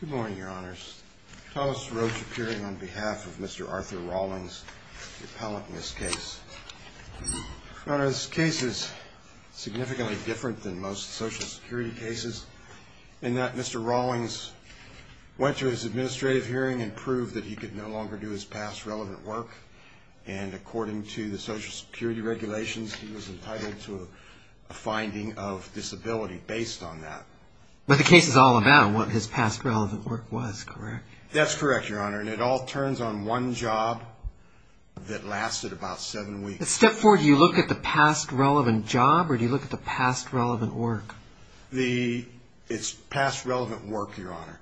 Good morning, Your Honors. Thomas Roach appearing on behalf of Mr. Arthur Rawlings, the appellant in this case. Your Honor, this case is significantly different than most Social Security cases in that Mr. Rawlings went to his administrative hearing and proved that he could no longer do his past relevant work. And according to the Social Security regulations, he was entitled to a finding of disability based on that. But the case is all about what his past relevant work was, correct? That's correct, Your Honor, and it all turns on one job that lasted about seven weeks. Step four, do you look at the past relevant job or do you look at the past relevant work? It's past relevant work, Your Honor.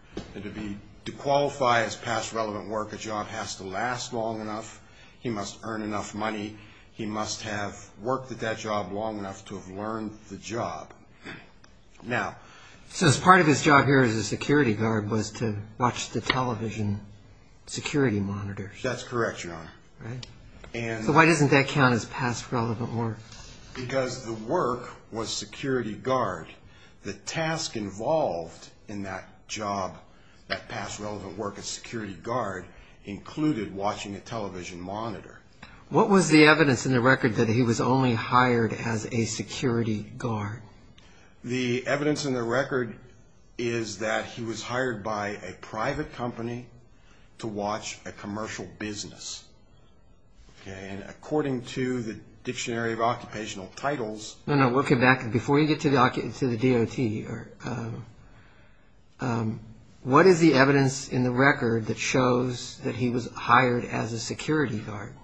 To qualify as past relevant work, a job has to last long enough, he must earn enough money, he must have worked at that job long enough to have learned the job. So part of his job here as a security guard was to watch the television security monitors? That's correct, Your Honor. So why doesn't that count as past relevant work? Because the work was security guard. The task involved in that job, that past relevant work as security guard, included watching a television monitor. What was the evidence in the record that he was only hired as a security guard? The evidence in the record is that he was hired by a private company to watch a commercial business. According to the Dictionary of Occupational Titles... Before you get to the DOT, what is the evidence in the record that shows that he was hired as a security guard?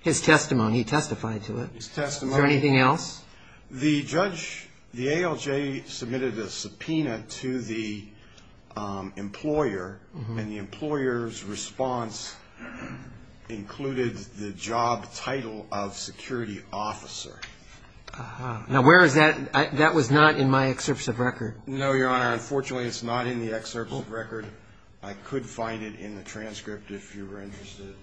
His testimony, he testified to it. His testimony. Is there anything else? The ALJ submitted a subpoena to the employer, and the employer's response included the job title of security officer. Now where is that? That was not in my excerpts of record. No, Your Honor, unfortunately it's not in the excerpts of record. I could find it in the transcript if you were interested,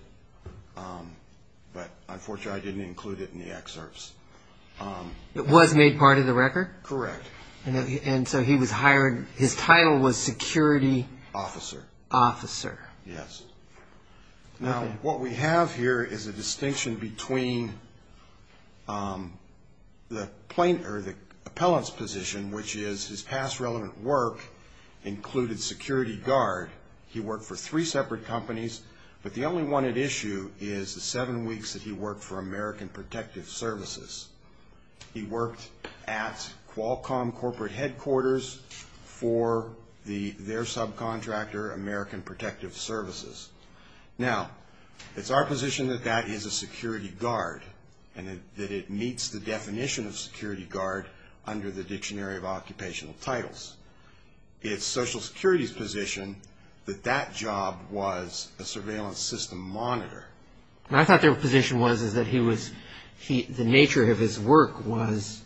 but unfortunately I didn't include it in the excerpts. It was made part of the record? Correct. And so he was hired, his title was security... Officer. Officer. Yes. Now what we have here is a distinction between the plaintiff, or the appellant's position, which is his past relevant work included security guard. He worked for three separate companies, but the only one at issue is the seven weeks that he worked for American Protective Services. He worked at Qualcomm corporate headquarters for their subcontractor, American Protective Services. Now, it's our position that that is a security guard, and that it meets the definition of security guard under the Dictionary of Occupational Titles. It's Social Security's position that that job was a surveillance system monitor. And I thought their position was that the nature of his work was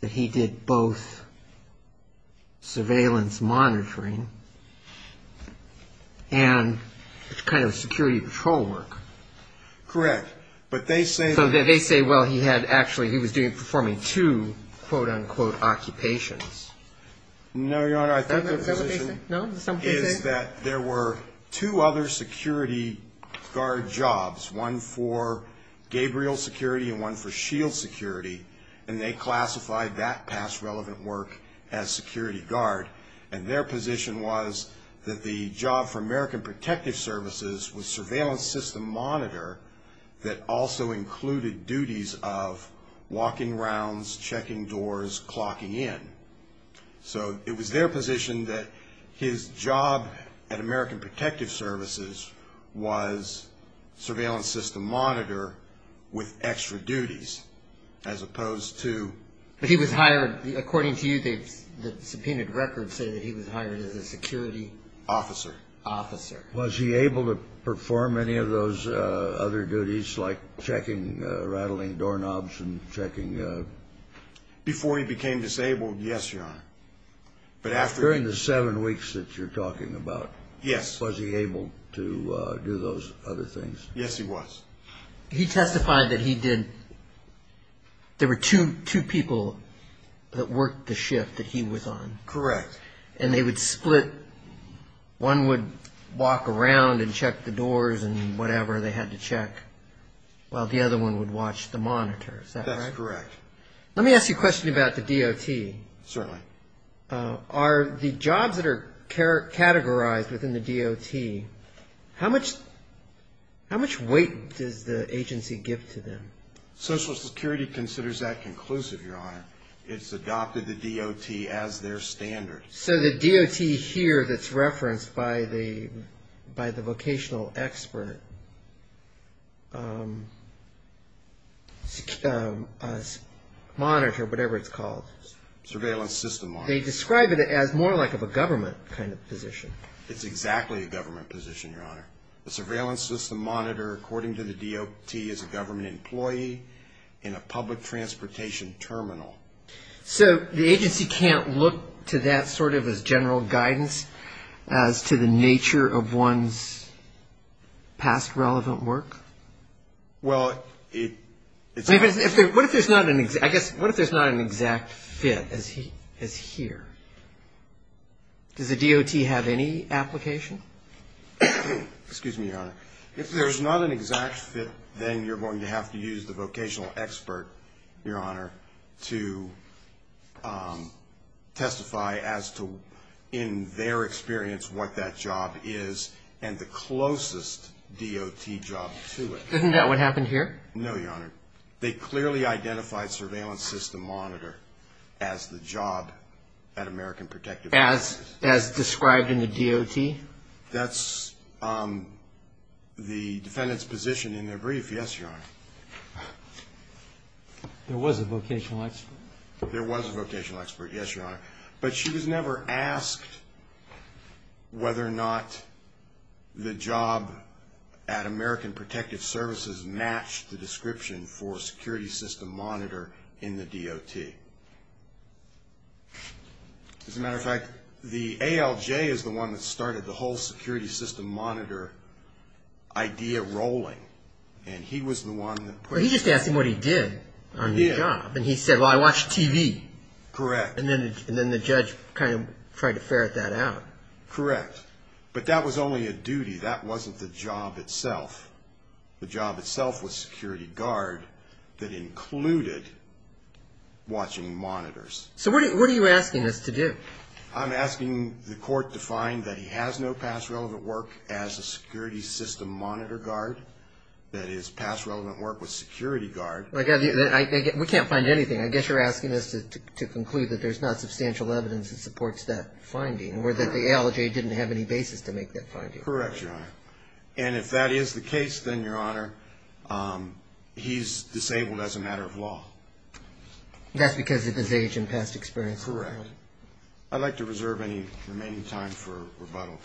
that he did both surveillance monitoring and kind of security patrol work. Correct. But they say... So they say, well, he was performing two, quote, unquote, occupations. No, Your Honor, I think their position... Is that what they say? No, is that what they say? Is that there were two other security guard jobs, one for Gabriel Security and one for S.H.I.E.L.D. Security, and they classified that past relevant work as security guard. And their position was that the job for American Protective Services was surveillance system monitor that also included duties of walking rounds, checking doors, clocking in. So it was their position that his job at American Protective Services was surveillance system monitor with extra duties, as opposed to... But he was hired, according to you, the subpoenaed records say that he was hired as a security... Officer. Officer. Was he able to perform any of those other duties, like checking, rattling doorknobs and checking... Before he became disabled, yes, Your Honor. But after... During the seven weeks that you're talking about... Yes. Was he able to do those other things? Yes, he was. He testified that he did... There were two people that worked the shift that he was on. Correct. And they would split... One would walk around and check the doors and whatever they had to check, while the other one would watch the monitor. Is that correct? That's correct. Let me ask you a question about the DOT. Certainly. Are the jobs that are categorized within the DOT, how much weight does the agency give to them? Social Security considers that conclusive, Your Honor. It's adopted the DOT as their standard. So the DOT here that's referenced by the vocational expert monitor, whatever it's called... Surveillance system monitor. They describe it as more like of a government kind of position. It's exactly a government position, Your Honor. The surveillance system monitor, according to the DOT, is a government employee in a public transportation terminal. So the agency can't look to that sort of as general guidance as to the nature of one's past relevant work? Well, it's... What if there's not an exact fit as here? Does the DOT have any application? Excuse me, Your Honor. If there's not an exact fit, then you're going to have to use the vocational expert, Your Honor, to testify as to, in their experience, what that job is and the closest DOT job to it. Isn't that what happened here? No, Your Honor. They clearly identified surveillance system monitor as the job at American Protective Services. As described in the DOT? That's the defendant's position in their brief, yes, Your Honor. There was a vocational expert? There was a vocational expert, yes, Your Honor. But she was never asked whether or not the job at American Protective Services matched the description for security system monitor in the DOT. As a matter of fact, the ALJ is the one that started the whole security system monitor idea rolling, and he was the one that put... Well, he just asked him what he did on the job. He did. And he said, well, I watch TV. Correct. And then the judge kind of tried to ferret that out. Correct. But that was only a duty. That wasn't the job itself. The job itself was security guard that included watching monitors. So what are you asking us to do? I'm asking the court to find that he has no past relevant work as a security system monitor guard, that his past relevant work was security guard. We can't find anything. I guess you're asking us to conclude that there's not substantial evidence that supports that finding or that the ALJ didn't have any basis to make that finding. Correct, Your Honor. And if that is the case, then, Your Honor, he's disabled as a matter of law. That's because of his age and past experience? Correct. I'd like to reserve any remaining time for rebuttal.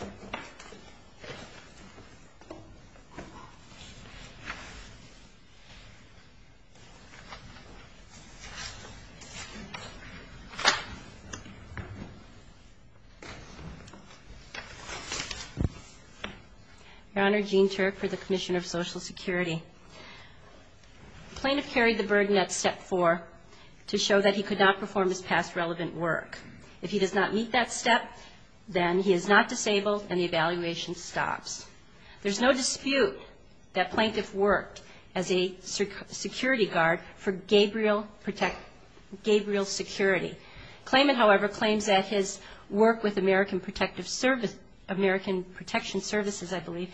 Your Honor, Jean Turk for the Commission of Social Security. Plaintiff carried the burden at step four to show that he could not perform his past relevant work. If he does not meet that step, then he is not disabled and the evaluation stops. There's no dispute that plaintiff worked as a security guard for Gabriel Security. Claimant, however, claims that his work with American Protection Services, I believe,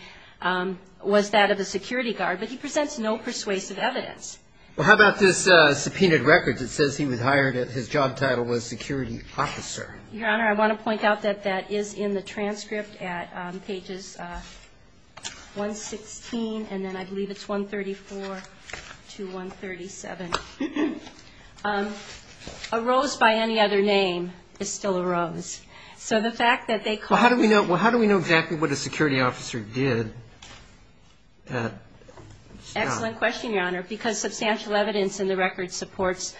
was that of a security guard, but he presents no persuasive evidence. Well, how about this subpoenaed record that says he was hired and his job title was security officer? Your Honor, I want to point out that that is in the transcript at pages 116 and then I believe it's 134 to 137. A rose by any other name is still a rose. Well, how do we know exactly what a security officer did? Excellent question, Your Honor, because substantial evidence in the record supports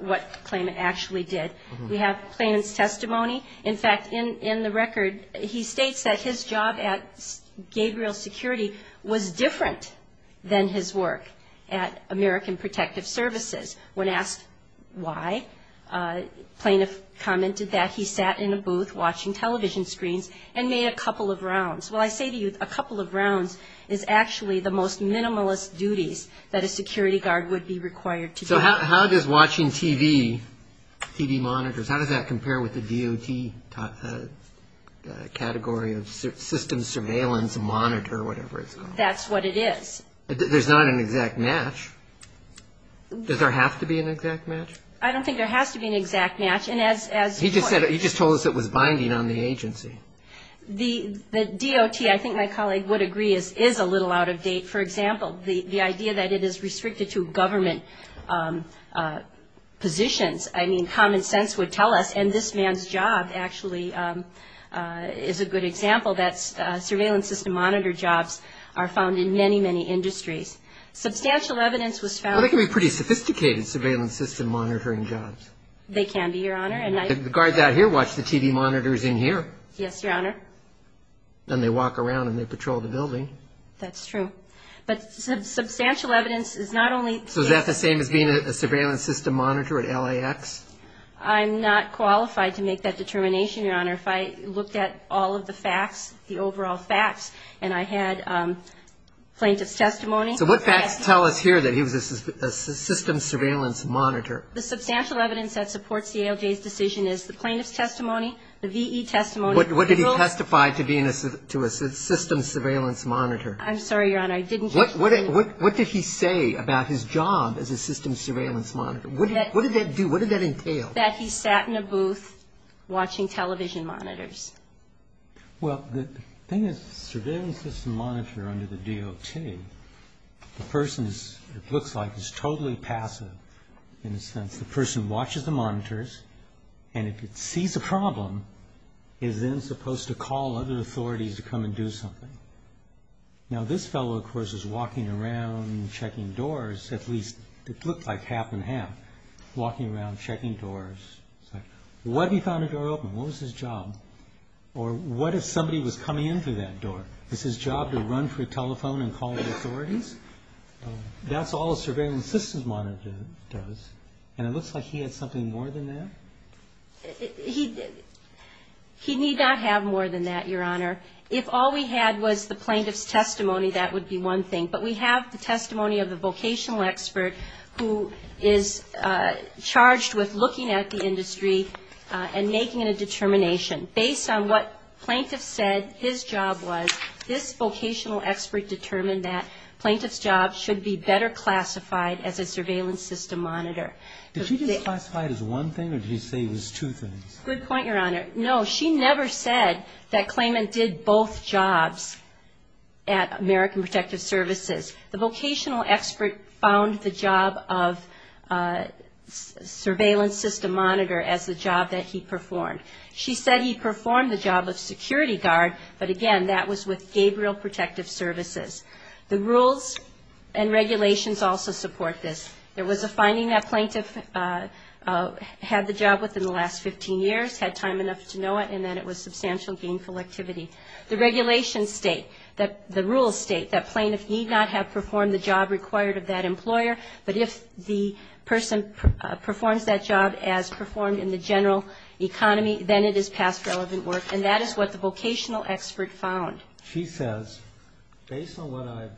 what the claimant actually did. In fact, in the record, he states that his job at Gabriel Security was different than his work at American Protective Services. When asked why, plaintiff commented that he sat in a booth watching television screens and made a couple of rounds. Well, I say to you, a couple of rounds is actually the most minimalist duties that a security guard would be required to do. How does watching TV monitors, how does that compare with the DOT category of systems surveillance monitor, whatever it's called? That's what it is. There's not an exact match. Does there have to be an exact match? I don't think there has to be an exact match. He just told us it was binding on the agency. The DOT, I think my colleague would agree, is a little out of date. For example, the idea that it is restricted to government positions, I mean, common sense would tell us, and this man's job actually is a good example, that surveillance system monitor jobs are found in many, many industries. Substantial evidence was found... Well, they can be pretty sophisticated surveillance system monitoring jobs. They can be, Your Honor. The guards out here watch the TV monitors in here. Yes, Your Honor. Then they walk around and they patrol the building. That's true. But substantial evidence is not only... So is that the same as being a surveillance system monitor at LAX? I'm not qualified to make that determination, Your Honor. If I looked at all of the facts, the overall facts, and I had plaintiff's testimony... So what facts tell us here that he was a systems surveillance monitor? The substantial evidence that supports the ALJ's decision is the plaintiff's testimony, the V.E. testimony... What did he testify to being a systems surveillance monitor? I'm sorry, Your Honor, I didn't get your point. What did he say about his job as a systems surveillance monitor? What did that do? What did that entail? That he sat in a booth watching television monitors. Well, the thing is, surveillance system monitor under the DOT, the person, it looks like, is totally passive in a sense. The person watches the monitors, and if it sees a problem, is then supposed to call other authorities to come and do something. Now this fellow, of course, is walking around checking doors, at least it looked like half and half. Walking around checking doors. What if he found a door open? What was his job? Or what if somebody was coming in through that door? Is his job to run for a telephone and call the authorities? That's all a surveillance system monitor does, and it looks like he had something more than that? He did not have more than that, Your Honor. If all we had was the plaintiff's testimony, that would be one thing. But we have the testimony of the vocational expert who is charged with looking at the industry and making a determination. Based on what plaintiff said his job was, this vocational expert determined that plaintiff's job should be better classified as a surveillance system monitor. Did she just classify it as one thing, or did she say it was two things? Good point, Your Honor. No, she never said that Clayman did both jobs at American Protective Services. The vocational expert found the job of surveillance system monitor as the job that he performed. She said he performed the job of security guard, but again, that was with Gabriel Protective Services. The rules and regulations also support this. There was a finding that plaintiff had the job within the last 15 years, had time enough to know it, and that it was substantial gainful activity. The regulations state, the rules state that plaintiff need not have performed the job required of that employer, but if the person performs that job as performed in the general economy, then it is past relevant work, and that is what the vocational expert found. She says, based on what I've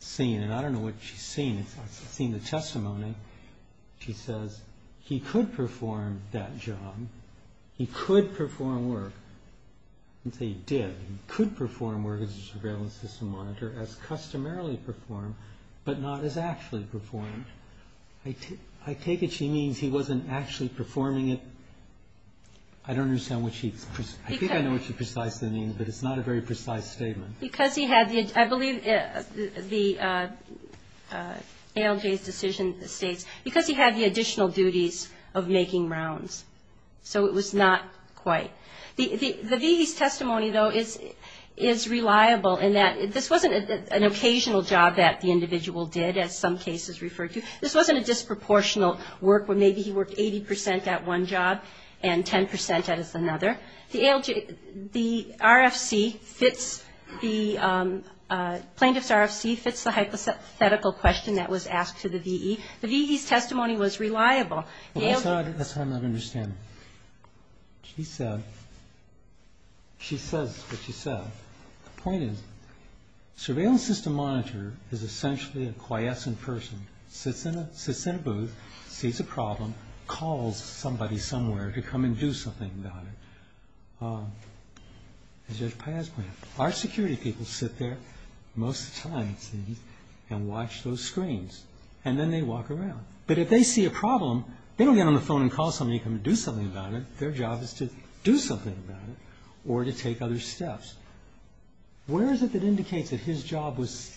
seen, and I don't know what she's seen. I've seen the testimony. She says he could perform that job. He could perform work. I didn't say he did. He could perform work as a surveillance system monitor, as customarily performed, but not as actually performed. I take it she means he wasn't actually performing it. I don't understand what she's... Because he had the, I believe the ALJ's decision states, because he had the additional duties of making rounds, so it was not quite. The VE's testimony, though, is reliable in that this wasn't an occasional job that the individual did, as some cases refer to. This wasn't a disproportional work where maybe he worked 80 percent at one job and 10 percent at another. The RFC fits, the plaintiff's RFC fits the hypothetical question that was asked to the VE. The VE's testimony was reliable. That's what I'm not understanding. She said, she says what she said. The point is surveillance system monitor is essentially a quiescent person, sits in a booth, sees a problem, calls somebody somewhere to come and do something about it. Art security people sit there most of the time and watch those screens, and then they walk around. But if they see a problem, they don't get on the phone and call somebody to come and do something about it. Their job is to do something about it, or to take other steps. Where is it that indicates that his job was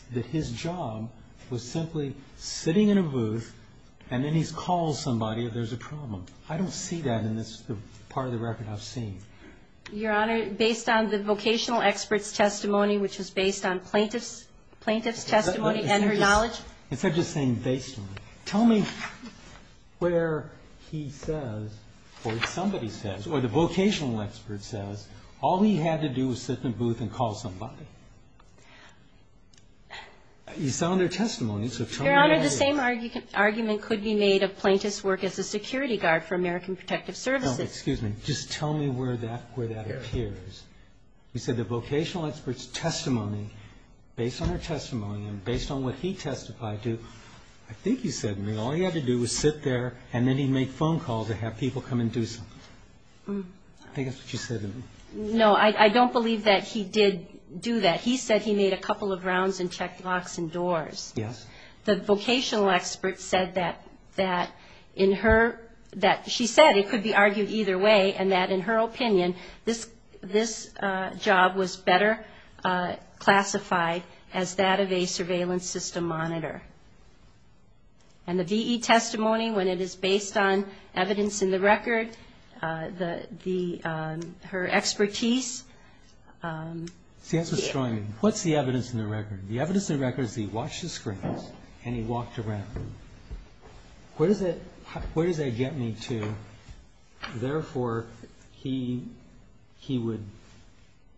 simply sitting in a booth, and then he calls somebody if there's a problem? I don't see that in this part of the record I've seen. Your Honor, based on the vocational expert's testimony, which was based on plaintiff's testimony and her knowledge. Instead of just saying based on. Tell me where he says, or somebody says, or the vocational expert says, all he had to do was sit in a booth and call somebody. You saw in their testimony. Your Honor, the same argument could be made of plaintiff's work as a security guard for American Protective Services. No, excuse me. Just tell me where that appears. You said the vocational expert's testimony, based on her testimony and based on what he testified to, I think you said all he had to do was sit there and then he'd make phone calls or have people come and do something. I think that's what you said. No, I don't believe that he did do that. He said he made a couple of rounds and checked locks and doors. Yes. The vocational expert said that in her, that she said it could be argued either way, and that in her opinion, this job was better classified as that of a surveillance system monitor. And the V.E. testimony, when it is based on evidence in the record, her expertise... See, that's what's drawing me. What's the evidence in the record? The evidence in the record is that he watched the screens and he walked around. Where does that get me to? Well, therefore, he would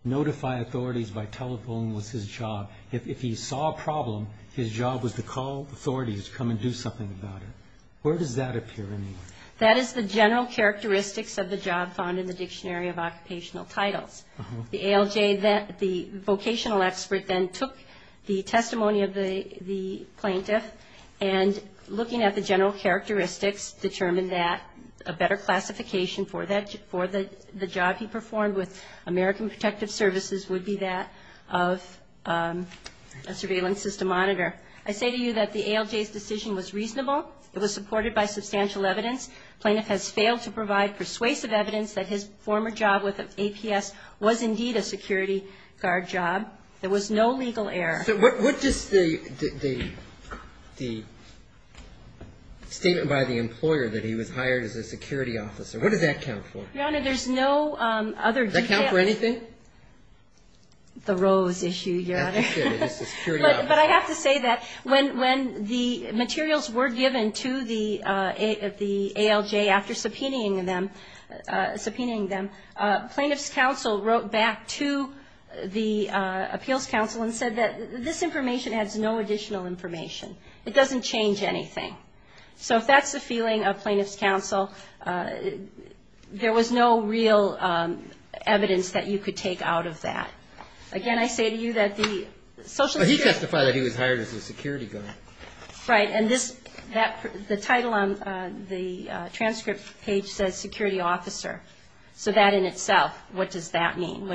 notify authorities by telephone was his job. If he saw a problem, his job was to call authorities to come and do something about it. Where does that appear anyway? That is the general characteristics of the job found in the Dictionary of Occupational Titles. The ALJ, the vocational expert then took the testimony of the plaintiff, and looking at the general characteristics, determined that a better classification for the job he performed with American Protective Services would be that of a surveillance system monitor. I say to you that the ALJ's decision was reasonable. It was supported by substantial evidence. Plaintiff has failed to provide persuasive evidence that his former job with APS was indeed a security guard job. There was no legal error. So what does the statement by the employer that he was hired as a security officer, what does that count for? Your Honor, there's no other detail. Does that count for anything? The rose issue, Your Honor. But I have to say that when the materials were given to the ALJ after subpoenaing them, plaintiff's counsel wrote back to the appeals counsel and said that this information has no additional information. It doesn't change anything. So if that's the feeling of plaintiff's counsel, there was no real evidence that you could take out of that. Again, I say to you that the social security... He testified that he was hired as a security guard. Right. And the title on the transcript page says security officer. So that in itself, what does that mean?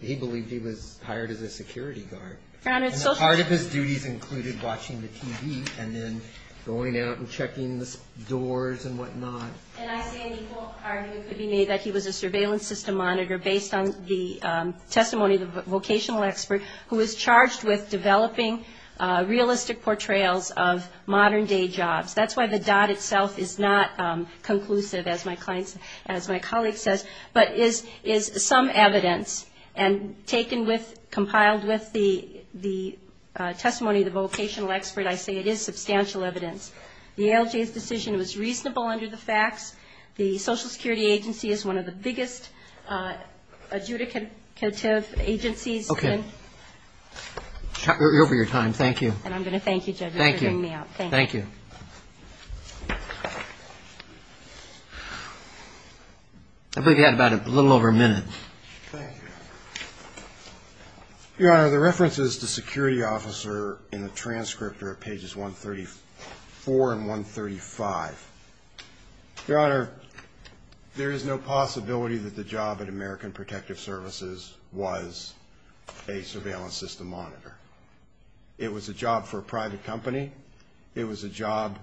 He believed he was hired as a security guard. And part of his duties included watching the TV and then going out and checking the doors and whatnot. And I say an equal argument could be made that he was a surveillance system monitor based on the testimony of the vocational expert who was charged with developing realistic portrayals of modern-day jobs. That's why the dot itself is not conclusive, as my colleague says, but is some evidence. And taken with, compiled with the testimony of the vocational expert, I say it is substantial evidence. The ALJ's decision was reasonable under the facts. The Social Security Agency is one of the biggest adjudicative agencies in... You're over your time. Thank you. And I'm going to thank you, Judge, for figuring me out. Thank you. I believe you had about a little over a minute. Your Honor, the references to security officer in the transcript are at pages 134 and 135. Your Honor, there is no possibility that the job at American Protective Services was a surveillance system monitor. It was a job for a private company, it was a job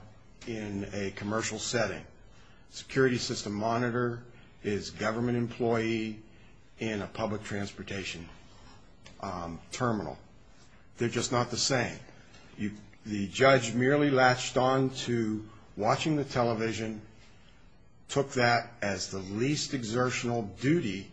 in a commercial setting. Security system monitor is government employee in a public transportation terminal. They're just not the same. The judge merely latched on to watching the television, took that as the least exertional duty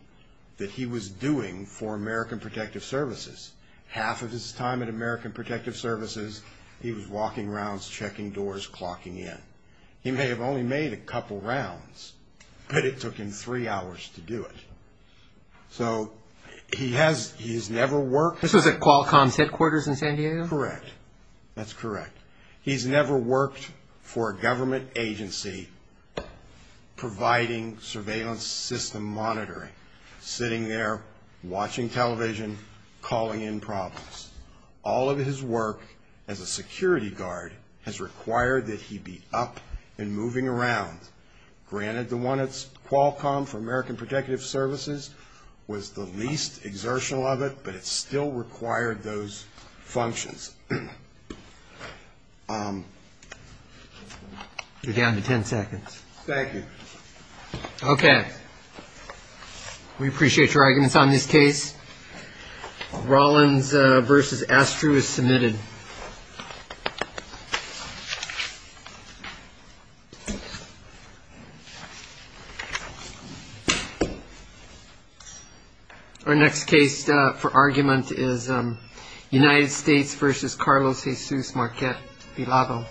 that he was doing for American Protective Services. Half of his time at American Protective Services, he was walking rounds, checking doors, clocking in. He may have only made a couple rounds, but it took him three hours to do it. This was at Qualcomm's headquarters in San Diego? Correct. That's correct. He's never worked for a government agency providing surveillance system monitoring. Sitting there, watching television, calling in problems. All of his work as a security guard has required that he be up and moving around. Granted, the one at Qualcomm for American Protective Services was the least exertional of it, but it still required those functions. You're down to ten seconds. Thank you. Okay. We appreciate your arguments on this case. Rollins v. Astrew is submitted. Our next case for argument is United States v. Carlos Jesus Marquette Villalba.